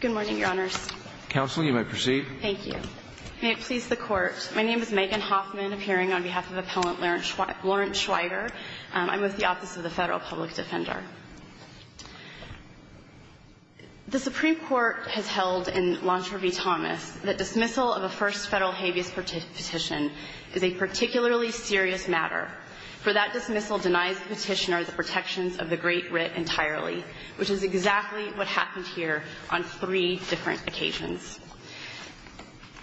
Good morning, Your Honors. Counsel, you may proceed. Thank you. May it please the Court, my name is Megan Hoffman, appearing on behalf of Appellant Lawrence Schwiger. I'm with the Office of the Federal Public Defender. The Supreme Court has held in Laundrie v. Thomas that dismissal of a first federal habeas petition is a particularly serious matter, for that dismissal denies the petitioner the protections of the Great Writ entirely, which is exactly what happened here on three different occasions.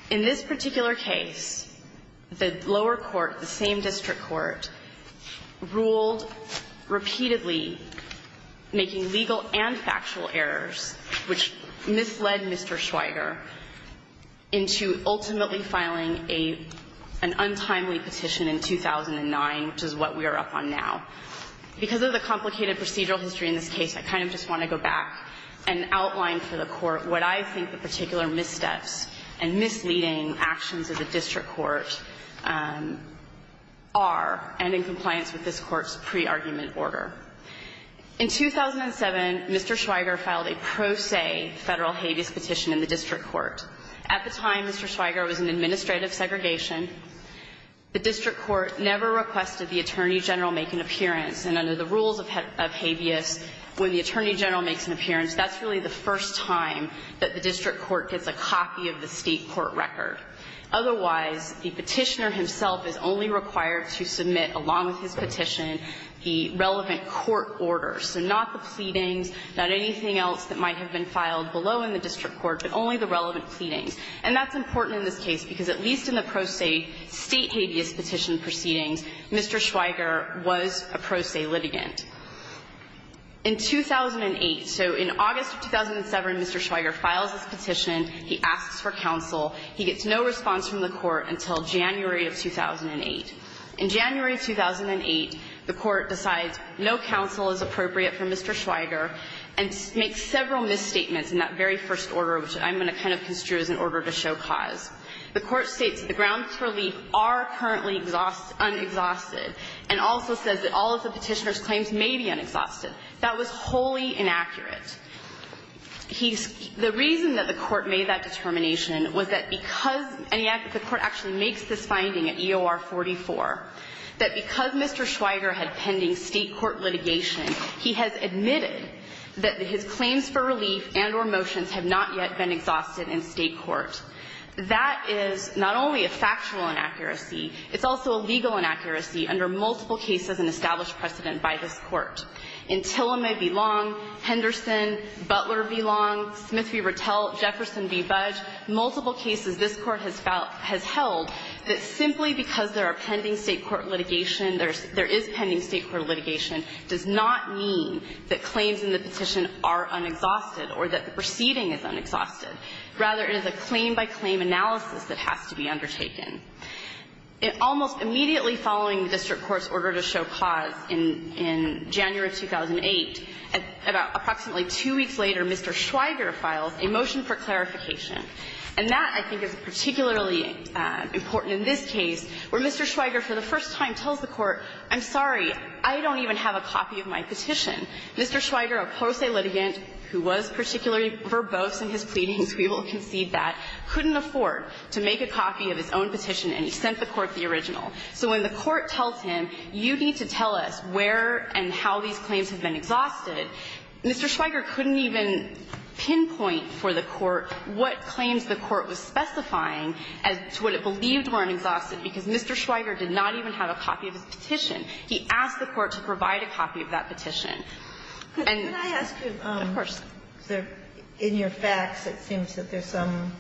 In this particular case, the lower court, the same district court, ruled repeatedly making legal and factual errors, which misled Mr. Schwiger, into ultimately filing an untimely petition in 2009, which is what we are up on now. Because of the complicated procedural history in this case, I kind of just want to go back and outline for the Court what I think the particular missteps and misleading actions of the district court are, and in compliance with this Court's pre-argument order. In 2007, Mr. Schwiger filed a pro se federal habeas petition in the district court. At the time, Mr. Schwiger was in administrative segregation. The district court never requested the Attorney General make an appearance, and under the rules of habeas, when the Attorney General makes an appearance, that's really the first time that the district court gets a copy of the state court record. Otherwise, the petitioner himself is only required to submit, along with his petition, the relevant court orders, so not the pleadings, not anything else that might have been filed below in the district court, but only the relevant pleadings. And that's important in this case, because at least in the pro se state habeas petition proceedings, Mr. Schwiger was a pro se litigant. In 2008, so in August of 2007, Mr. Schwiger files his petition. He asks for counsel. He gets no response from the Court until January of 2008. In January of 2008, the Court decides no counsel is appropriate for Mr. Schwiger and makes several misstatements in that very first order, which I'm going to kind of construe as an order to show cause. The Court states that the grounds for leap are currently unexhausted, and also says that all of the petitioner's claims may be unexhausted. That was wholly inaccurate. He's the reason that the Court made that determination was that because any act the Court actually makes this finding at EOR 44, that because Mr. Schwiger had pending state court litigation, he has admitted that his claims for relief and or motions have not yet been exhausted in state court. That is not only a factual inaccuracy. It's also a legal inaccuracy under multiple cases and established precedent by this Court. In Tillamay v. Long, Henderson, Butler v. Long, Smith v. Rattell, Jefferson v. Budge, multiple cases this Court has held that simply because there are pending state court litigation, there is pending state court litigation, does not mean that claims in the petition are unexhausted or that the proceeding is unexhausted. Rather, it is a claim-by-claim analysis that has to be undertaken. Almost immediately following the district court's order to show cause in January of 2008, about approximately two weeks later, Mr. Schwiger files a motion for clarification. And that, I think, is particularly important in this case, where Mr. Schwiger for the first time tells the Court, I'm sorry, I don't even have a copy of my petition. Mr. Schwiger, a pro se litigant who was particularly verbose in his pleadings, we will concede that, couldn't afford to make a copy of his own petition, and he sent the Court the original. So when the Court tells him, you need to tell us where and how these claims have been exhausted, Mr. Schwiger couldn't even pinpoint for the Court what claims the Court was specifying as to what it believed were unexhausted, because Mr. Schwiger did not even have a copy of his petition. He asked the Court to provide a copy of that petition. And of course. In your facts, it seems that there's some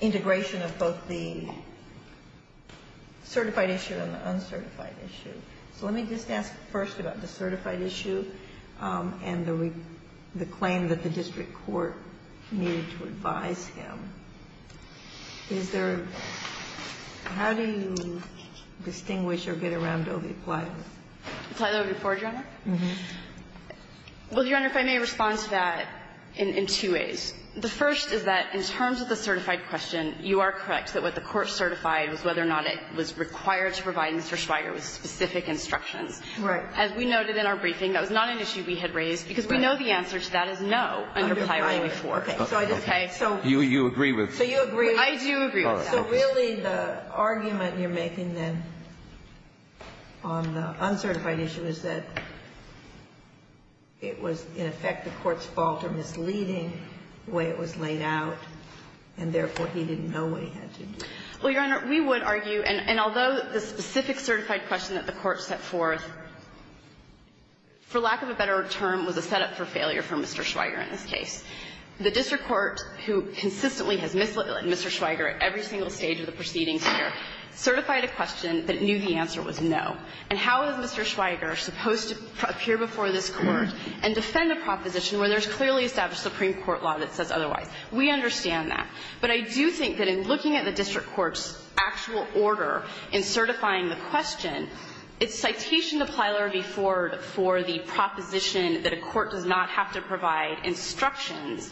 integration of both the certified issue and the uncertified issue. So let me just ask first about the certified issue and the claim that the district court needed to advise him. Is there a – how do you distinguish or get around Dovie Plyler? Plyler before General? Well, Your Honor, if I may respond to that in two ways. The first is that in terms of the certified question, you are correct that what the Court certified was whether or not it was required to provide Mr. Schwiger with specific instructions. Right. As we noted in our briefing, that was not an issue we had raised, because we know the answer to that is no under Plyler v. Ford. Okay. So you agree with that? I do agree with that. So really the argument you're making then on the uncertified issue is that it was in effect the Court's fault or misleading the way it was laid out, and therefore he didn't know what he had to do. Well, Your Honor, we would argue, and although the specific certified question that the Court set forth, for lack of a better term, was a setup for failure for Mr. Schwiger in this case. The district court, who consistently has misled Mr. Schwiger at every single stage of the proceedings here, certified a question that knew the answer was no. And how is Mr. Schwiger supposed to appear before this Court and defend a proposition where there's clearly established Supreme Court law that says otherwise? We understand that. But I do think that in looking at the district court's actual order in certifying the question, it's citation to Plyler v. Ford for the proposition that a court does not have to provide instructions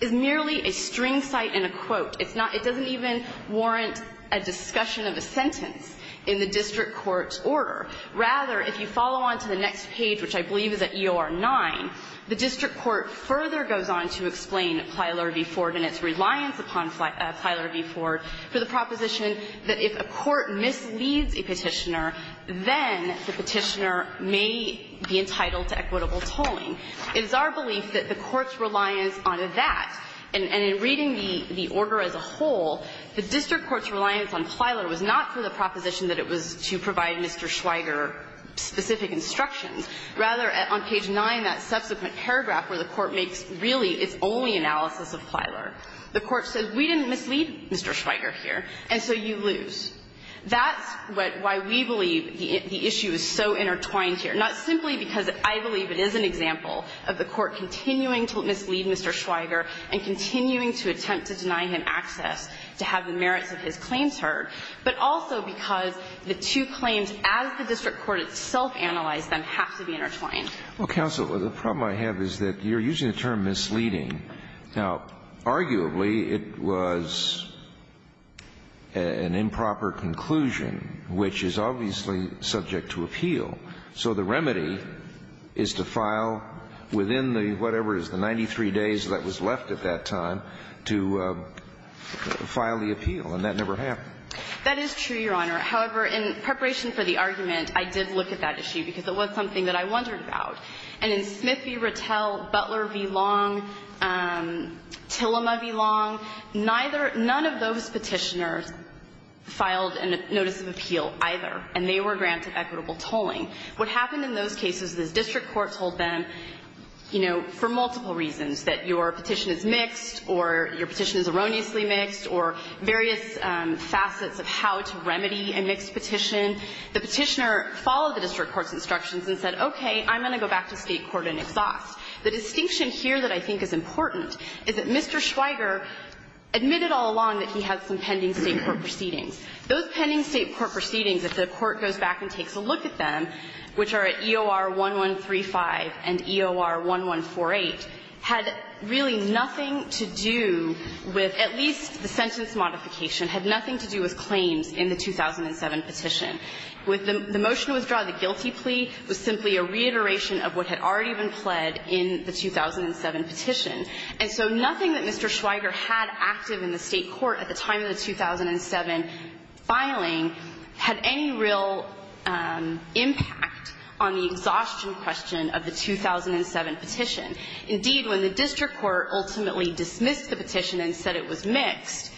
is merely a string cite and a quote. It's not — it doesn't even warrant a discussion of a sentence in the district court's order. Rather, if you follow on to the next page, which I believe is at EOR-9, the district court further goes on to explain Plyler v. Ford and its reliance upon Plyler v. Ford for the proposition that if a court misleads a Petitioner, then the Petitioner may be entitled to equitable tolling. It is our belief that the Court's reliance on that, and in reading the order as a whole, the district court's reliance on Plyler was not for the proposition that it was to provide Mr. Schwiger specific instructions. Rather, on page 9, that subsequent paragraph where the Court makes really its only analysis of Plyler, the Court says we didn't mislead Mr. Schwiger here, and so you lose. That's what — why we believe the issue is so intertwined here, not simply because I believe it is an example of the Court continuing to mislead Mr. Schwiger and continuing to attempt to deny him access to have the merits of his claims heard, but also because the two claims, as the district court itself analyzed them, have to be intertwined. Well, counsel, the problem I have is that you're using the term misleading. Now, arguably, it was an improper conclusion, which is obviously subject to appeal. So the remedy is to file within the whatever is the 93 days that was left at that time to file the appeal, and that never happened. That is true, Your Honor. However, in preparation for the argument, I did look at that issue because it was something that I wondered about. And in Smith v. Rattell, Butler v. Long, Tillema v. Long, neither — none of those Petitioners filed a notice of appeal either, and they were granted equitable tolling. What happened in those cases is district court told them, you know, for multiple reasons, that your petition is mixed or your petition is erroneously mixed or various facets of how to remedy a mixed petition, the Petitioner followed the district court's instructions and said, okay, I'm going to go back to State court and exhaust. The distinction here that I think is important is that Mr. Schweiger admitted all along that he had some pending State court proceedings. Those pending State court proceedings, if the Court goes back and takes a look at them, which are at EOR-1135 and EOR-1148, had really nothing to do with — at least the plea was simply a reiteration of what had already been pled in the 2007 petition. And so nothing that Mr. Schweiger had active in the State court at the time of the 2007 filing had any real impact on the exhaustion question of the 2007 petition. Indeed, when the district court ultimately dismissed the petition and said it was mixed,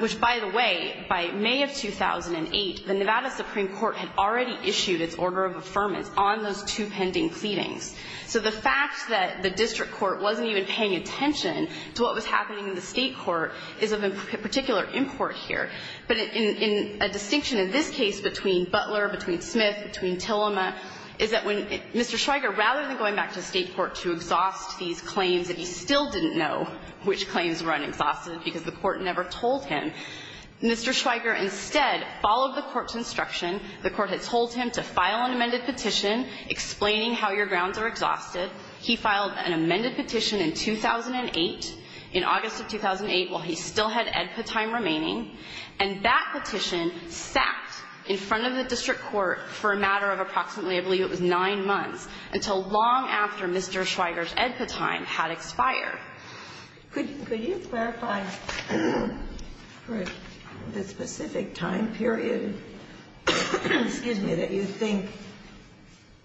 which, by the way, by May of 2008, the Nevada Supreme Court had already issued a letter of affirmance on those two pending pleadings, so the fact that the district court wasn't even paying attention to what was happening in the State court is of particular import here. But in a distinction in this case between Butler, between Smith, between Tillema, is that when Mr. Schweiger, rather than going back to State court to exhaust these claims, and he still didn't know which claims were unexhausted because the court never told him, Mr. Schweiger instead followed the court's instruction. The court had told him to file an amended petition explaining how your grounds are exhausted. He filed an amended petition in 2008, in August of 2008, while he still had EDPA time remaining, and that petition sat in front of the district court for a matter of approximately I believe it was nine months, until long after Mr. Schweiger's EDPA time had expired. Could you clarify for the specific time period, excuse me, that you think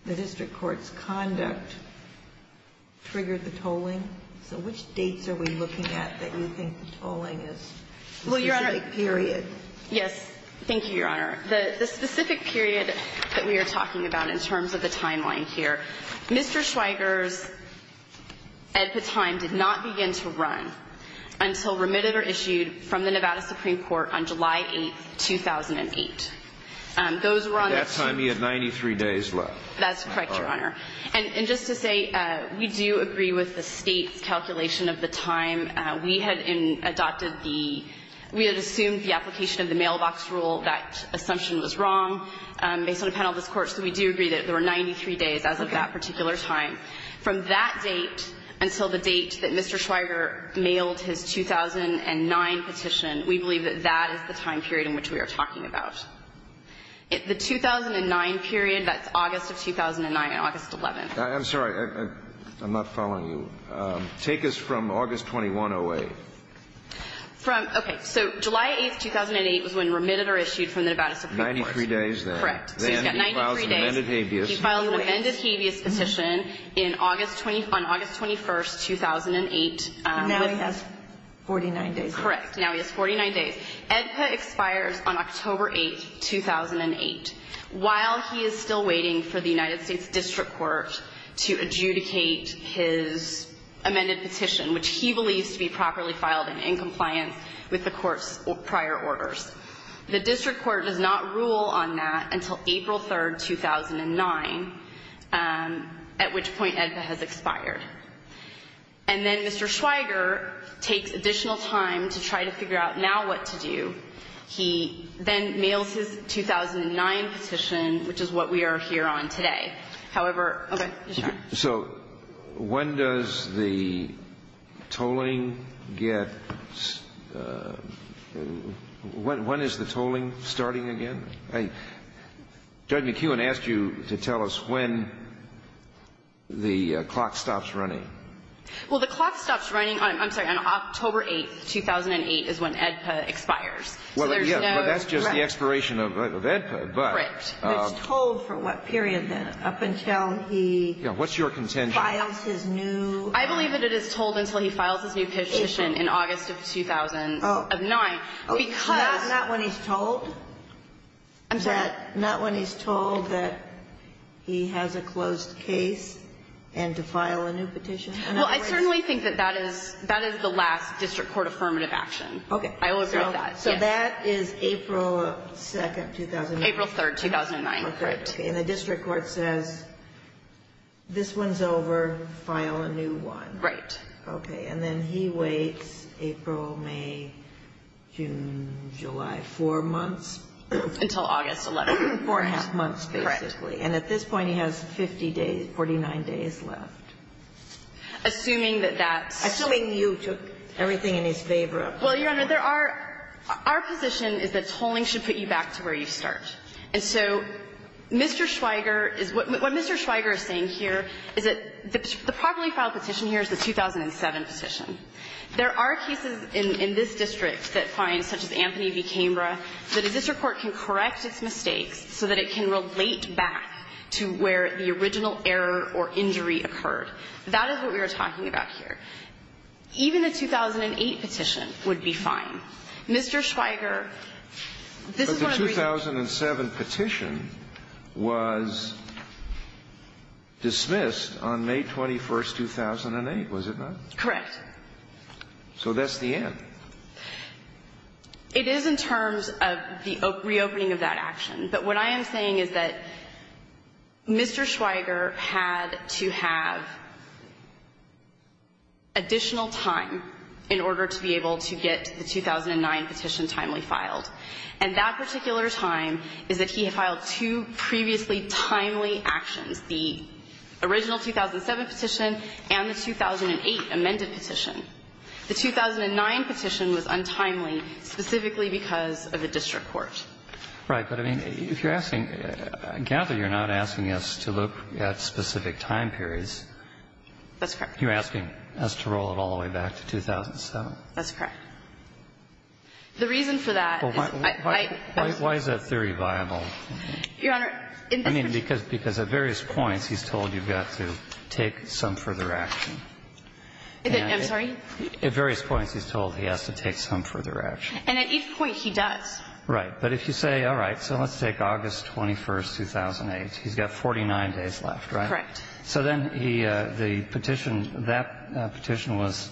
the district court's conduct triggered the tolling? So which dates are we looking at that you think the tolling is a specific period? Well, Your Honor, yes. Thank you, Your Honor. The specific period that we are talking about in terms of the timeline here, Mr. Schweiger's EDPA time did not begin to run until remitted or issued from the Nevada Supreme Court on July 8th, 2008. Those were on the two. At that time, he had 93 days left. That's correct, Your Honor. And just to say, we do agree with the State's calculation of the time. We had adopted the – we had assumed the application of the mailbox rule, that assumption was wrong based on the panel of this Court, so we do agree that there were 93 days as of that particular time. From that date until the date that Mr. Schweiger mailed his 2009 petition, we believe that that is the time period in which we are talking about. The 2009 period, that's August of 2009 and August 11th. I'm sorry. I'm not following you. Take us from August 21, 08. From – okay. So July 8th, 2008 was when remitted or issued from the Nevada Supreme Court. 93 days there. So he's got 93 days. Amended habeas. He filed an amended habeas petition in August – on August 21st, 2008. Now he has 49 days. Correct. Now he has 49 days. AEDPA expires on October 8th, 2008, while he is still waiting for the United States District Court to adjudicate his amended petition, which he believes to be properly filed and in compliance with the Court's prior orders. The District Court does not rule on that until April 3rd, 2009, at which point AEDPA has expired. And then Mr. Schweiger takes additional time to try to figure out now what to do. He then mails his 2009 petition, which is what we are here on today. However – okay. Your turn. So when does the tolling get – when is the tolling starting again? Judge McEwen asked you to tell us when the clock stops running. Well, the clock stops running – I'm sorry. On October 8th, 2008 is when AEDPA expires. Well, yeah, but that's just the expiration of AEDPA. Correct. But it's told for what period then? Up until he – Yeah. What's your contention? Files his new – I believe that it is told until he files his new petition in August of 2009. Oh. Because – Not when he's told? I'm sorry. Not when he's told that he has a closed case and to file a new petition? Well, I certainly think that that is – that is the last District Court affirmative action. Okay. I will agree with that. So that is April 2nd, 2008? April 3rd, 2009. Okay. And the District Court says, this one's over, file a new one. Right. Okay. And then he waits April, May, June, July, four months? Until August 11th. Four and a half months, basically. Correct. And at this point he has 50 days – 49 days left. Assuming that that's – Assuming you took everything in his favor. Well, Your Honor, there are – our position is that tolling should put you back to where you start. And so Mr. Schweiger is – what Mr. Schweiger is saying here is that the properly filed petition here is the 2007 petition. There are cases in this district that find, such as Anthony v. Cambra, that a district court can correct its mistakes so that it can relate back to where the original error or injury occurred. That is what we are talking about here. Even the 2008 petition would be fine. Mr. Schweiger, this is one of the reasons – But the 2007 petition was dismissed on May 21st, 2008, was it not? Correct. So that's the end. It is in terms of the reopening of that action. But what I am saying is that Mr. Schweiger had to have additional time in order to be able to get the 2009 petition timely filed. And that particular time is that he had filed two previously timely actions, the original 2007 petition and the 2008 amended petition. The 2009 petition was untimely specifically because of the district court. Right. But, I mean, if you're asking – I gather you're not asking us to look at specific time periods. That's correct. You're asking us to roll it all the way back to 2007. That's correct. The reason for that is – Why is that theory viable? Your Honor, in particular – I mean, because at various points he's told you've got to take some further action. I'm sorry? At various points he's told he has to take some further action. And at each point he does. Right. But if you say, all right, so let's take August 21st, 2008. He's got 49 days left, right? Correct. So then the petition – that petition was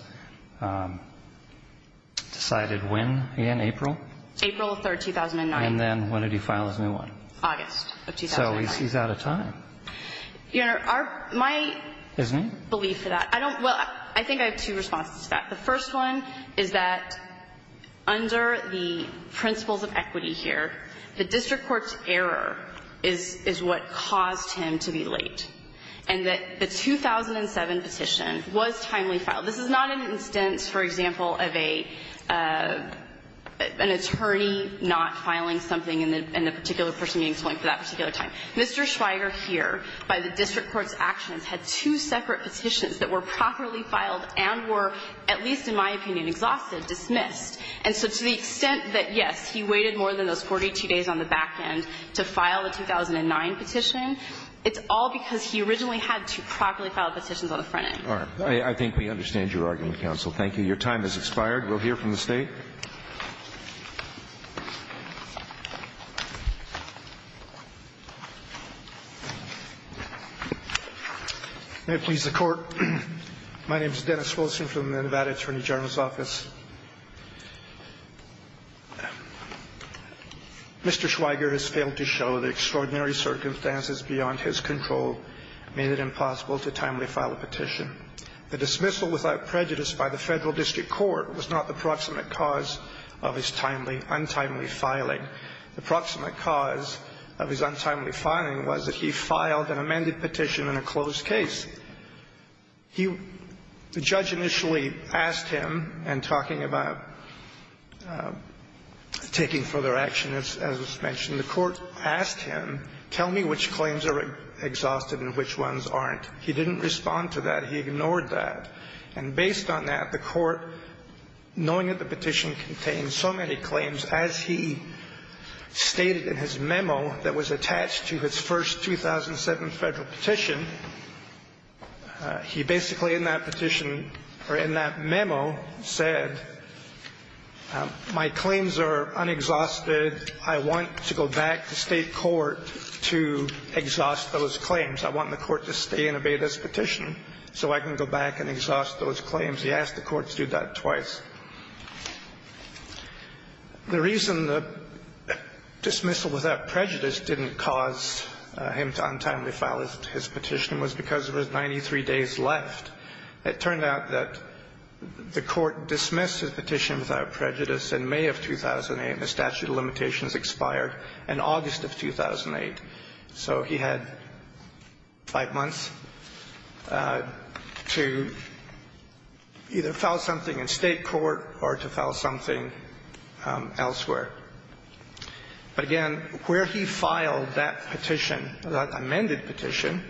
decided when, again, April? April 3rd, 2009. And then when did he file his new one? August of 2009. So he's out of time. Your Honor, my – Isn't he? – belief for that – well, I think I have two responses to that. The first one is that under the principles of equity here, the district court's error is what caused him to be late, and that the 2007 petition was timely filed. This is not an instance, for example, of a – an attorney not filing something and the particular person getting something for that particular time. Mr. Schweiger here, by the district court's actions, had two separate petitions that were properly filed and were, at least in my opinion, exhausted, dismissed. And so to the extent that, yes, he waited more than those 42 days on the back end to file the 2009 petition, it's all because he originally had two properly filed petitions on the front end. All right. I think we understand your argument, counsel. Thank you. Your time has expired. We'll hear from the State. May it please the Court. My name is Dennis Wilson from the Nevada Attorney General's Office. Mr. Schweiger has failed to show the extraordinary circumstances beyond his control made it impossible to timely file a petition. The dismissal without prejudice by the Federal District Court was not the proximate cause of his failure to file the petition. It was the proximate cause of his timely, untimely filing. The proximate cause of his untimely filing was that he filed an amended petition in a closed case. He – the judge initially asked him, and talking about taking further action, as was mentioned, the Court asked him, tell me which claims are exhausted and which ones aren't. He didn't respond to that. He ignored that. And based on that, the Court, knowing that the petition contained so many claims, as he stated in his memo that was attached to his first 2007 Federal petition, he basically in that petition – or in that memo said, my claims are unexhausted. I want to go back to State court to exhaust those claims. I want the Court to stay and obey this petition so I can go back and exhaust those claims. He asked the Court to do that twice. The reason the dismissal without prejudice didn't cause him to untimely file his petition was because there was 93 days left. It turned out that the Court dismissed his petition without prejudice in May of 2008 and the statute of limitations expired in August of 2008. So he had five months to either file something in State court or to file something elsewhere. But again, where he filed that petition, that amended petition,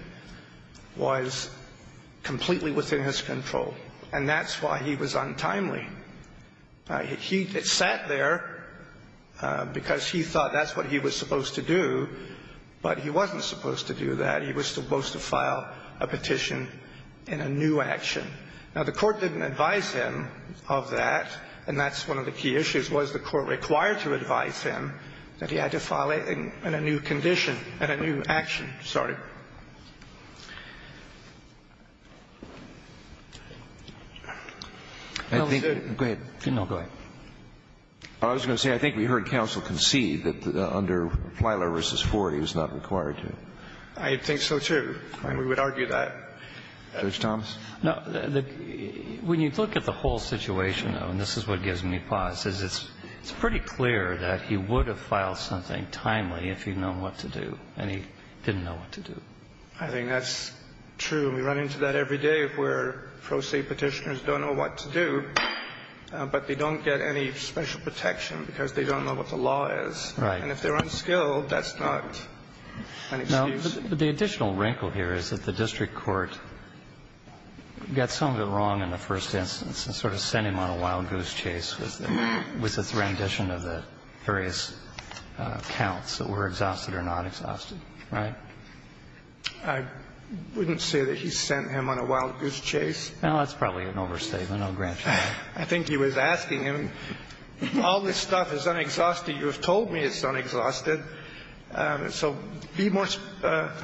was completely within his control, and that's why he was untimely. He sat there because he thought that's what he was supposed to do, but he wasn't supposed to do that. He was supposed to file a petition in a new action. Now, the Court didn't advise him of that, and that's one of the key issues, was the Court required to advise him that he had to file it in a new condition, in a new action. I think we heard counsel concede that under Plyler v. Ford he was not required to. I think so, too. We would argue that. Judge Thomas? No. When you look at the whole situation, though, and this is what gives me pause, is it's pretty clear that he would have filed something timely if he'd known what to do, and he didn't know what to do. I think that's true. We run into that every day where pro se Petitioners don't know what to do, but they don't get any special protection because they don't know what the law is. Right. And if they're unskilled, that's not an excuse. No, but the additional wrinkle here is that the district court got some of it wrong in the first instance and sort of sent him on a wild goose chase with the rendition of the various counts that were exhausted or not exhausted. Right? I wouldn't say that he sent him on a wild goose chase. Well, that's probably an overstatement. I'll grant you that. I think he was asking him, all this stuff is unexhausted. You have told me it's unexhausted. So be more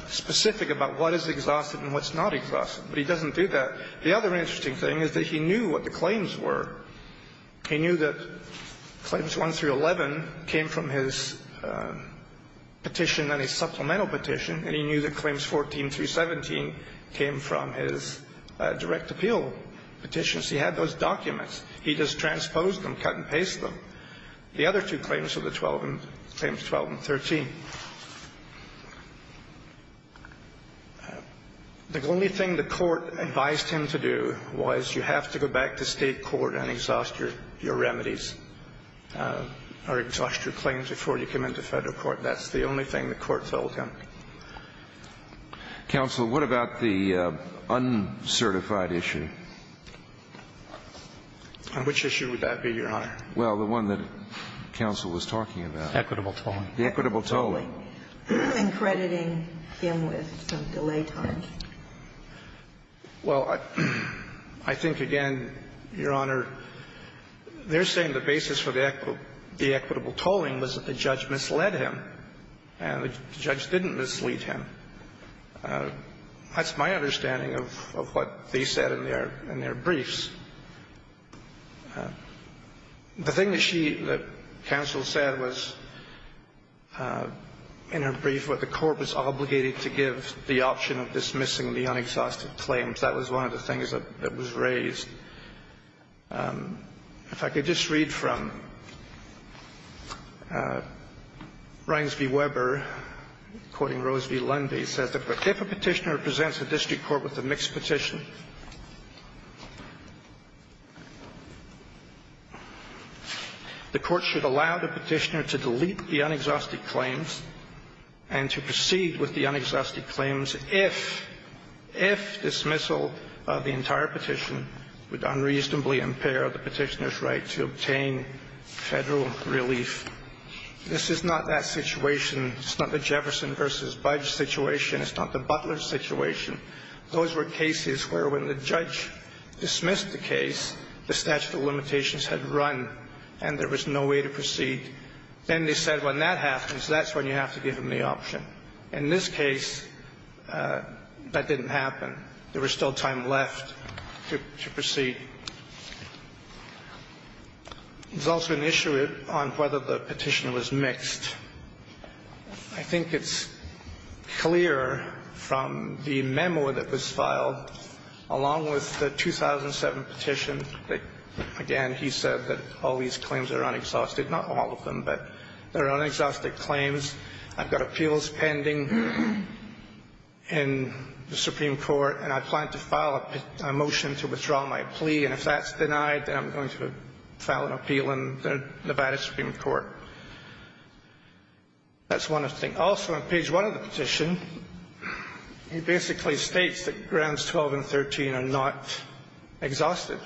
specific about what is exhausted and what's not exhausted. But he doesn't do that. The other interesting thing is that he knew what the claims were. He knew that Claims 1 through 11 came from his petition and his supplemental petition, and he knew that Claims 14 through 17 came from his direct appeal petition. So he had those documents. He just transposed them, cut and pasted them. The other two claims were the 12 and 13. The only thing the court advised him to do was you have to go back to State court and exhaust your remedies or exhaust your claims before you come into Federal court. That's the only thing the court told him. Counsel, what about the uncertified issue? Which issue would that be, Your Honor? Well, the one that counsel was talking about. Equitable tolling. The equitable tolling. And crediting him with some delay times. Well, I think, again, Your Honor, they're saying the basis for the equitable tolling was that the judge misled him, and the judge didn't mislead him. That's my understanding of what they said in their briefs. The thing that she, that counsel said was in her brief where the court was obligated to give the option of dismissing the unexhausted claims. That was one of the things that was raised. If I could just read from Rines v. Weber, quoting Rose v. Lundy. It says that if a petitioner presents a district court with a mixed petition, the court should allow the petitioner to delete the unexhausted claims and to proceed with the unexhausted claims if, if dismissal of the entire petition would unreasonably impair the petitioner's right to obtain Federal relief. This is not that situation. It's not the Jefferson v. Budge situation. It's not the Butler situation. Those were cases where when the judge dismissed the case, the statute of limitations had run, and there was no way to proceed. Then they said when that happens, that's when you have to give him the option. In this case, that didn't happen. There was still time left to proceed. There's also an issue on whether the petitioner was mixed. I think it's clear from the memo that was filed, along with the 2007 petition, that, again, he said that all these claims are unexhausted, not all of them, but they're unexhausted claims. I've got appeals pending in the Supreme Court, and I plan to file a motion to withdraw my plea, and if that's denied, then I'm going to file an appeal in the Nevada Supreme Court. That's one of the things. Also, on page 1 of the petition, he basically states that Grounds 12 and 13 are not exhausted.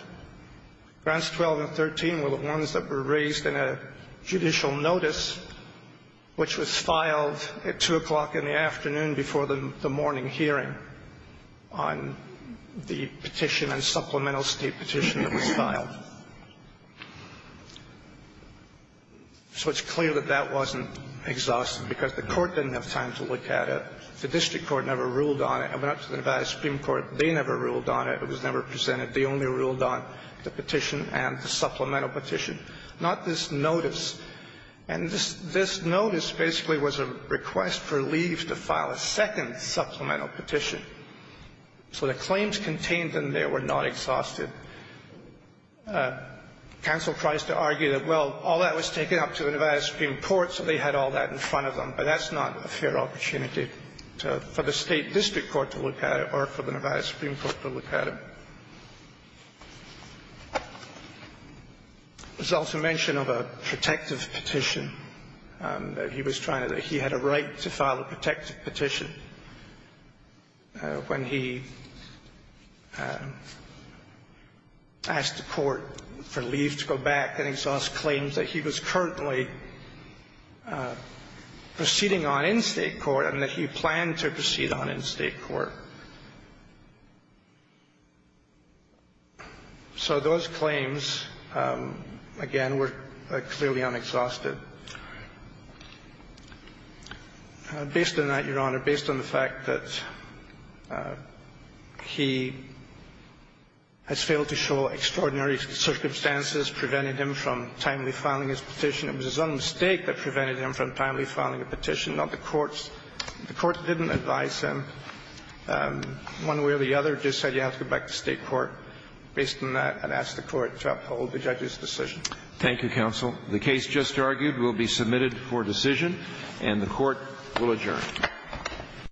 Grounds 12 and 13 were the ones that were raised in a judicial notice, which was filed at 2 o'clock in the afternoon before the morning hearing on the petition and supplemental state petition that was filed. So it's clear that that wasn't exhausted because the court didn't have time to look at it. The district court never ruled on it. It went up to the Nevada Supreme Court. They never ruled on it. It was never presented. They only ruled on the petition and the supplemental petition, not this notice. And this notice basically was a request for leaves to file a second supplemental petition. So the claims contained in there were not exhausted. Counsel tries to argue that, well, all that was taken up to the Nevada Supreme Court, so they had all that in front of them, but that's not a fair opportunity for the State Court. There's also mention of a protective petition that he was trying to do. He had a right to file a protective petition when he asked the court for leave to go back and exhaust claims that he was currently proceeding on in state court and that he planned to proceed on in state court. So those claims, again, were clearly unexhausted. Based on that, Your Honor, based on the fact that he has failed to show extraordinary circumstances, prevented him from timely filing his petition, it was his own mistake that prevented him from timely filing a petition, not the court's. The court didn't advise him one way or the other. It just said you have to go back to state court. Based on that, I'd ask the court to uphold the judge's decision. Thank you, counsel. The case just argued will be submitted for decision, and the court will adjourn.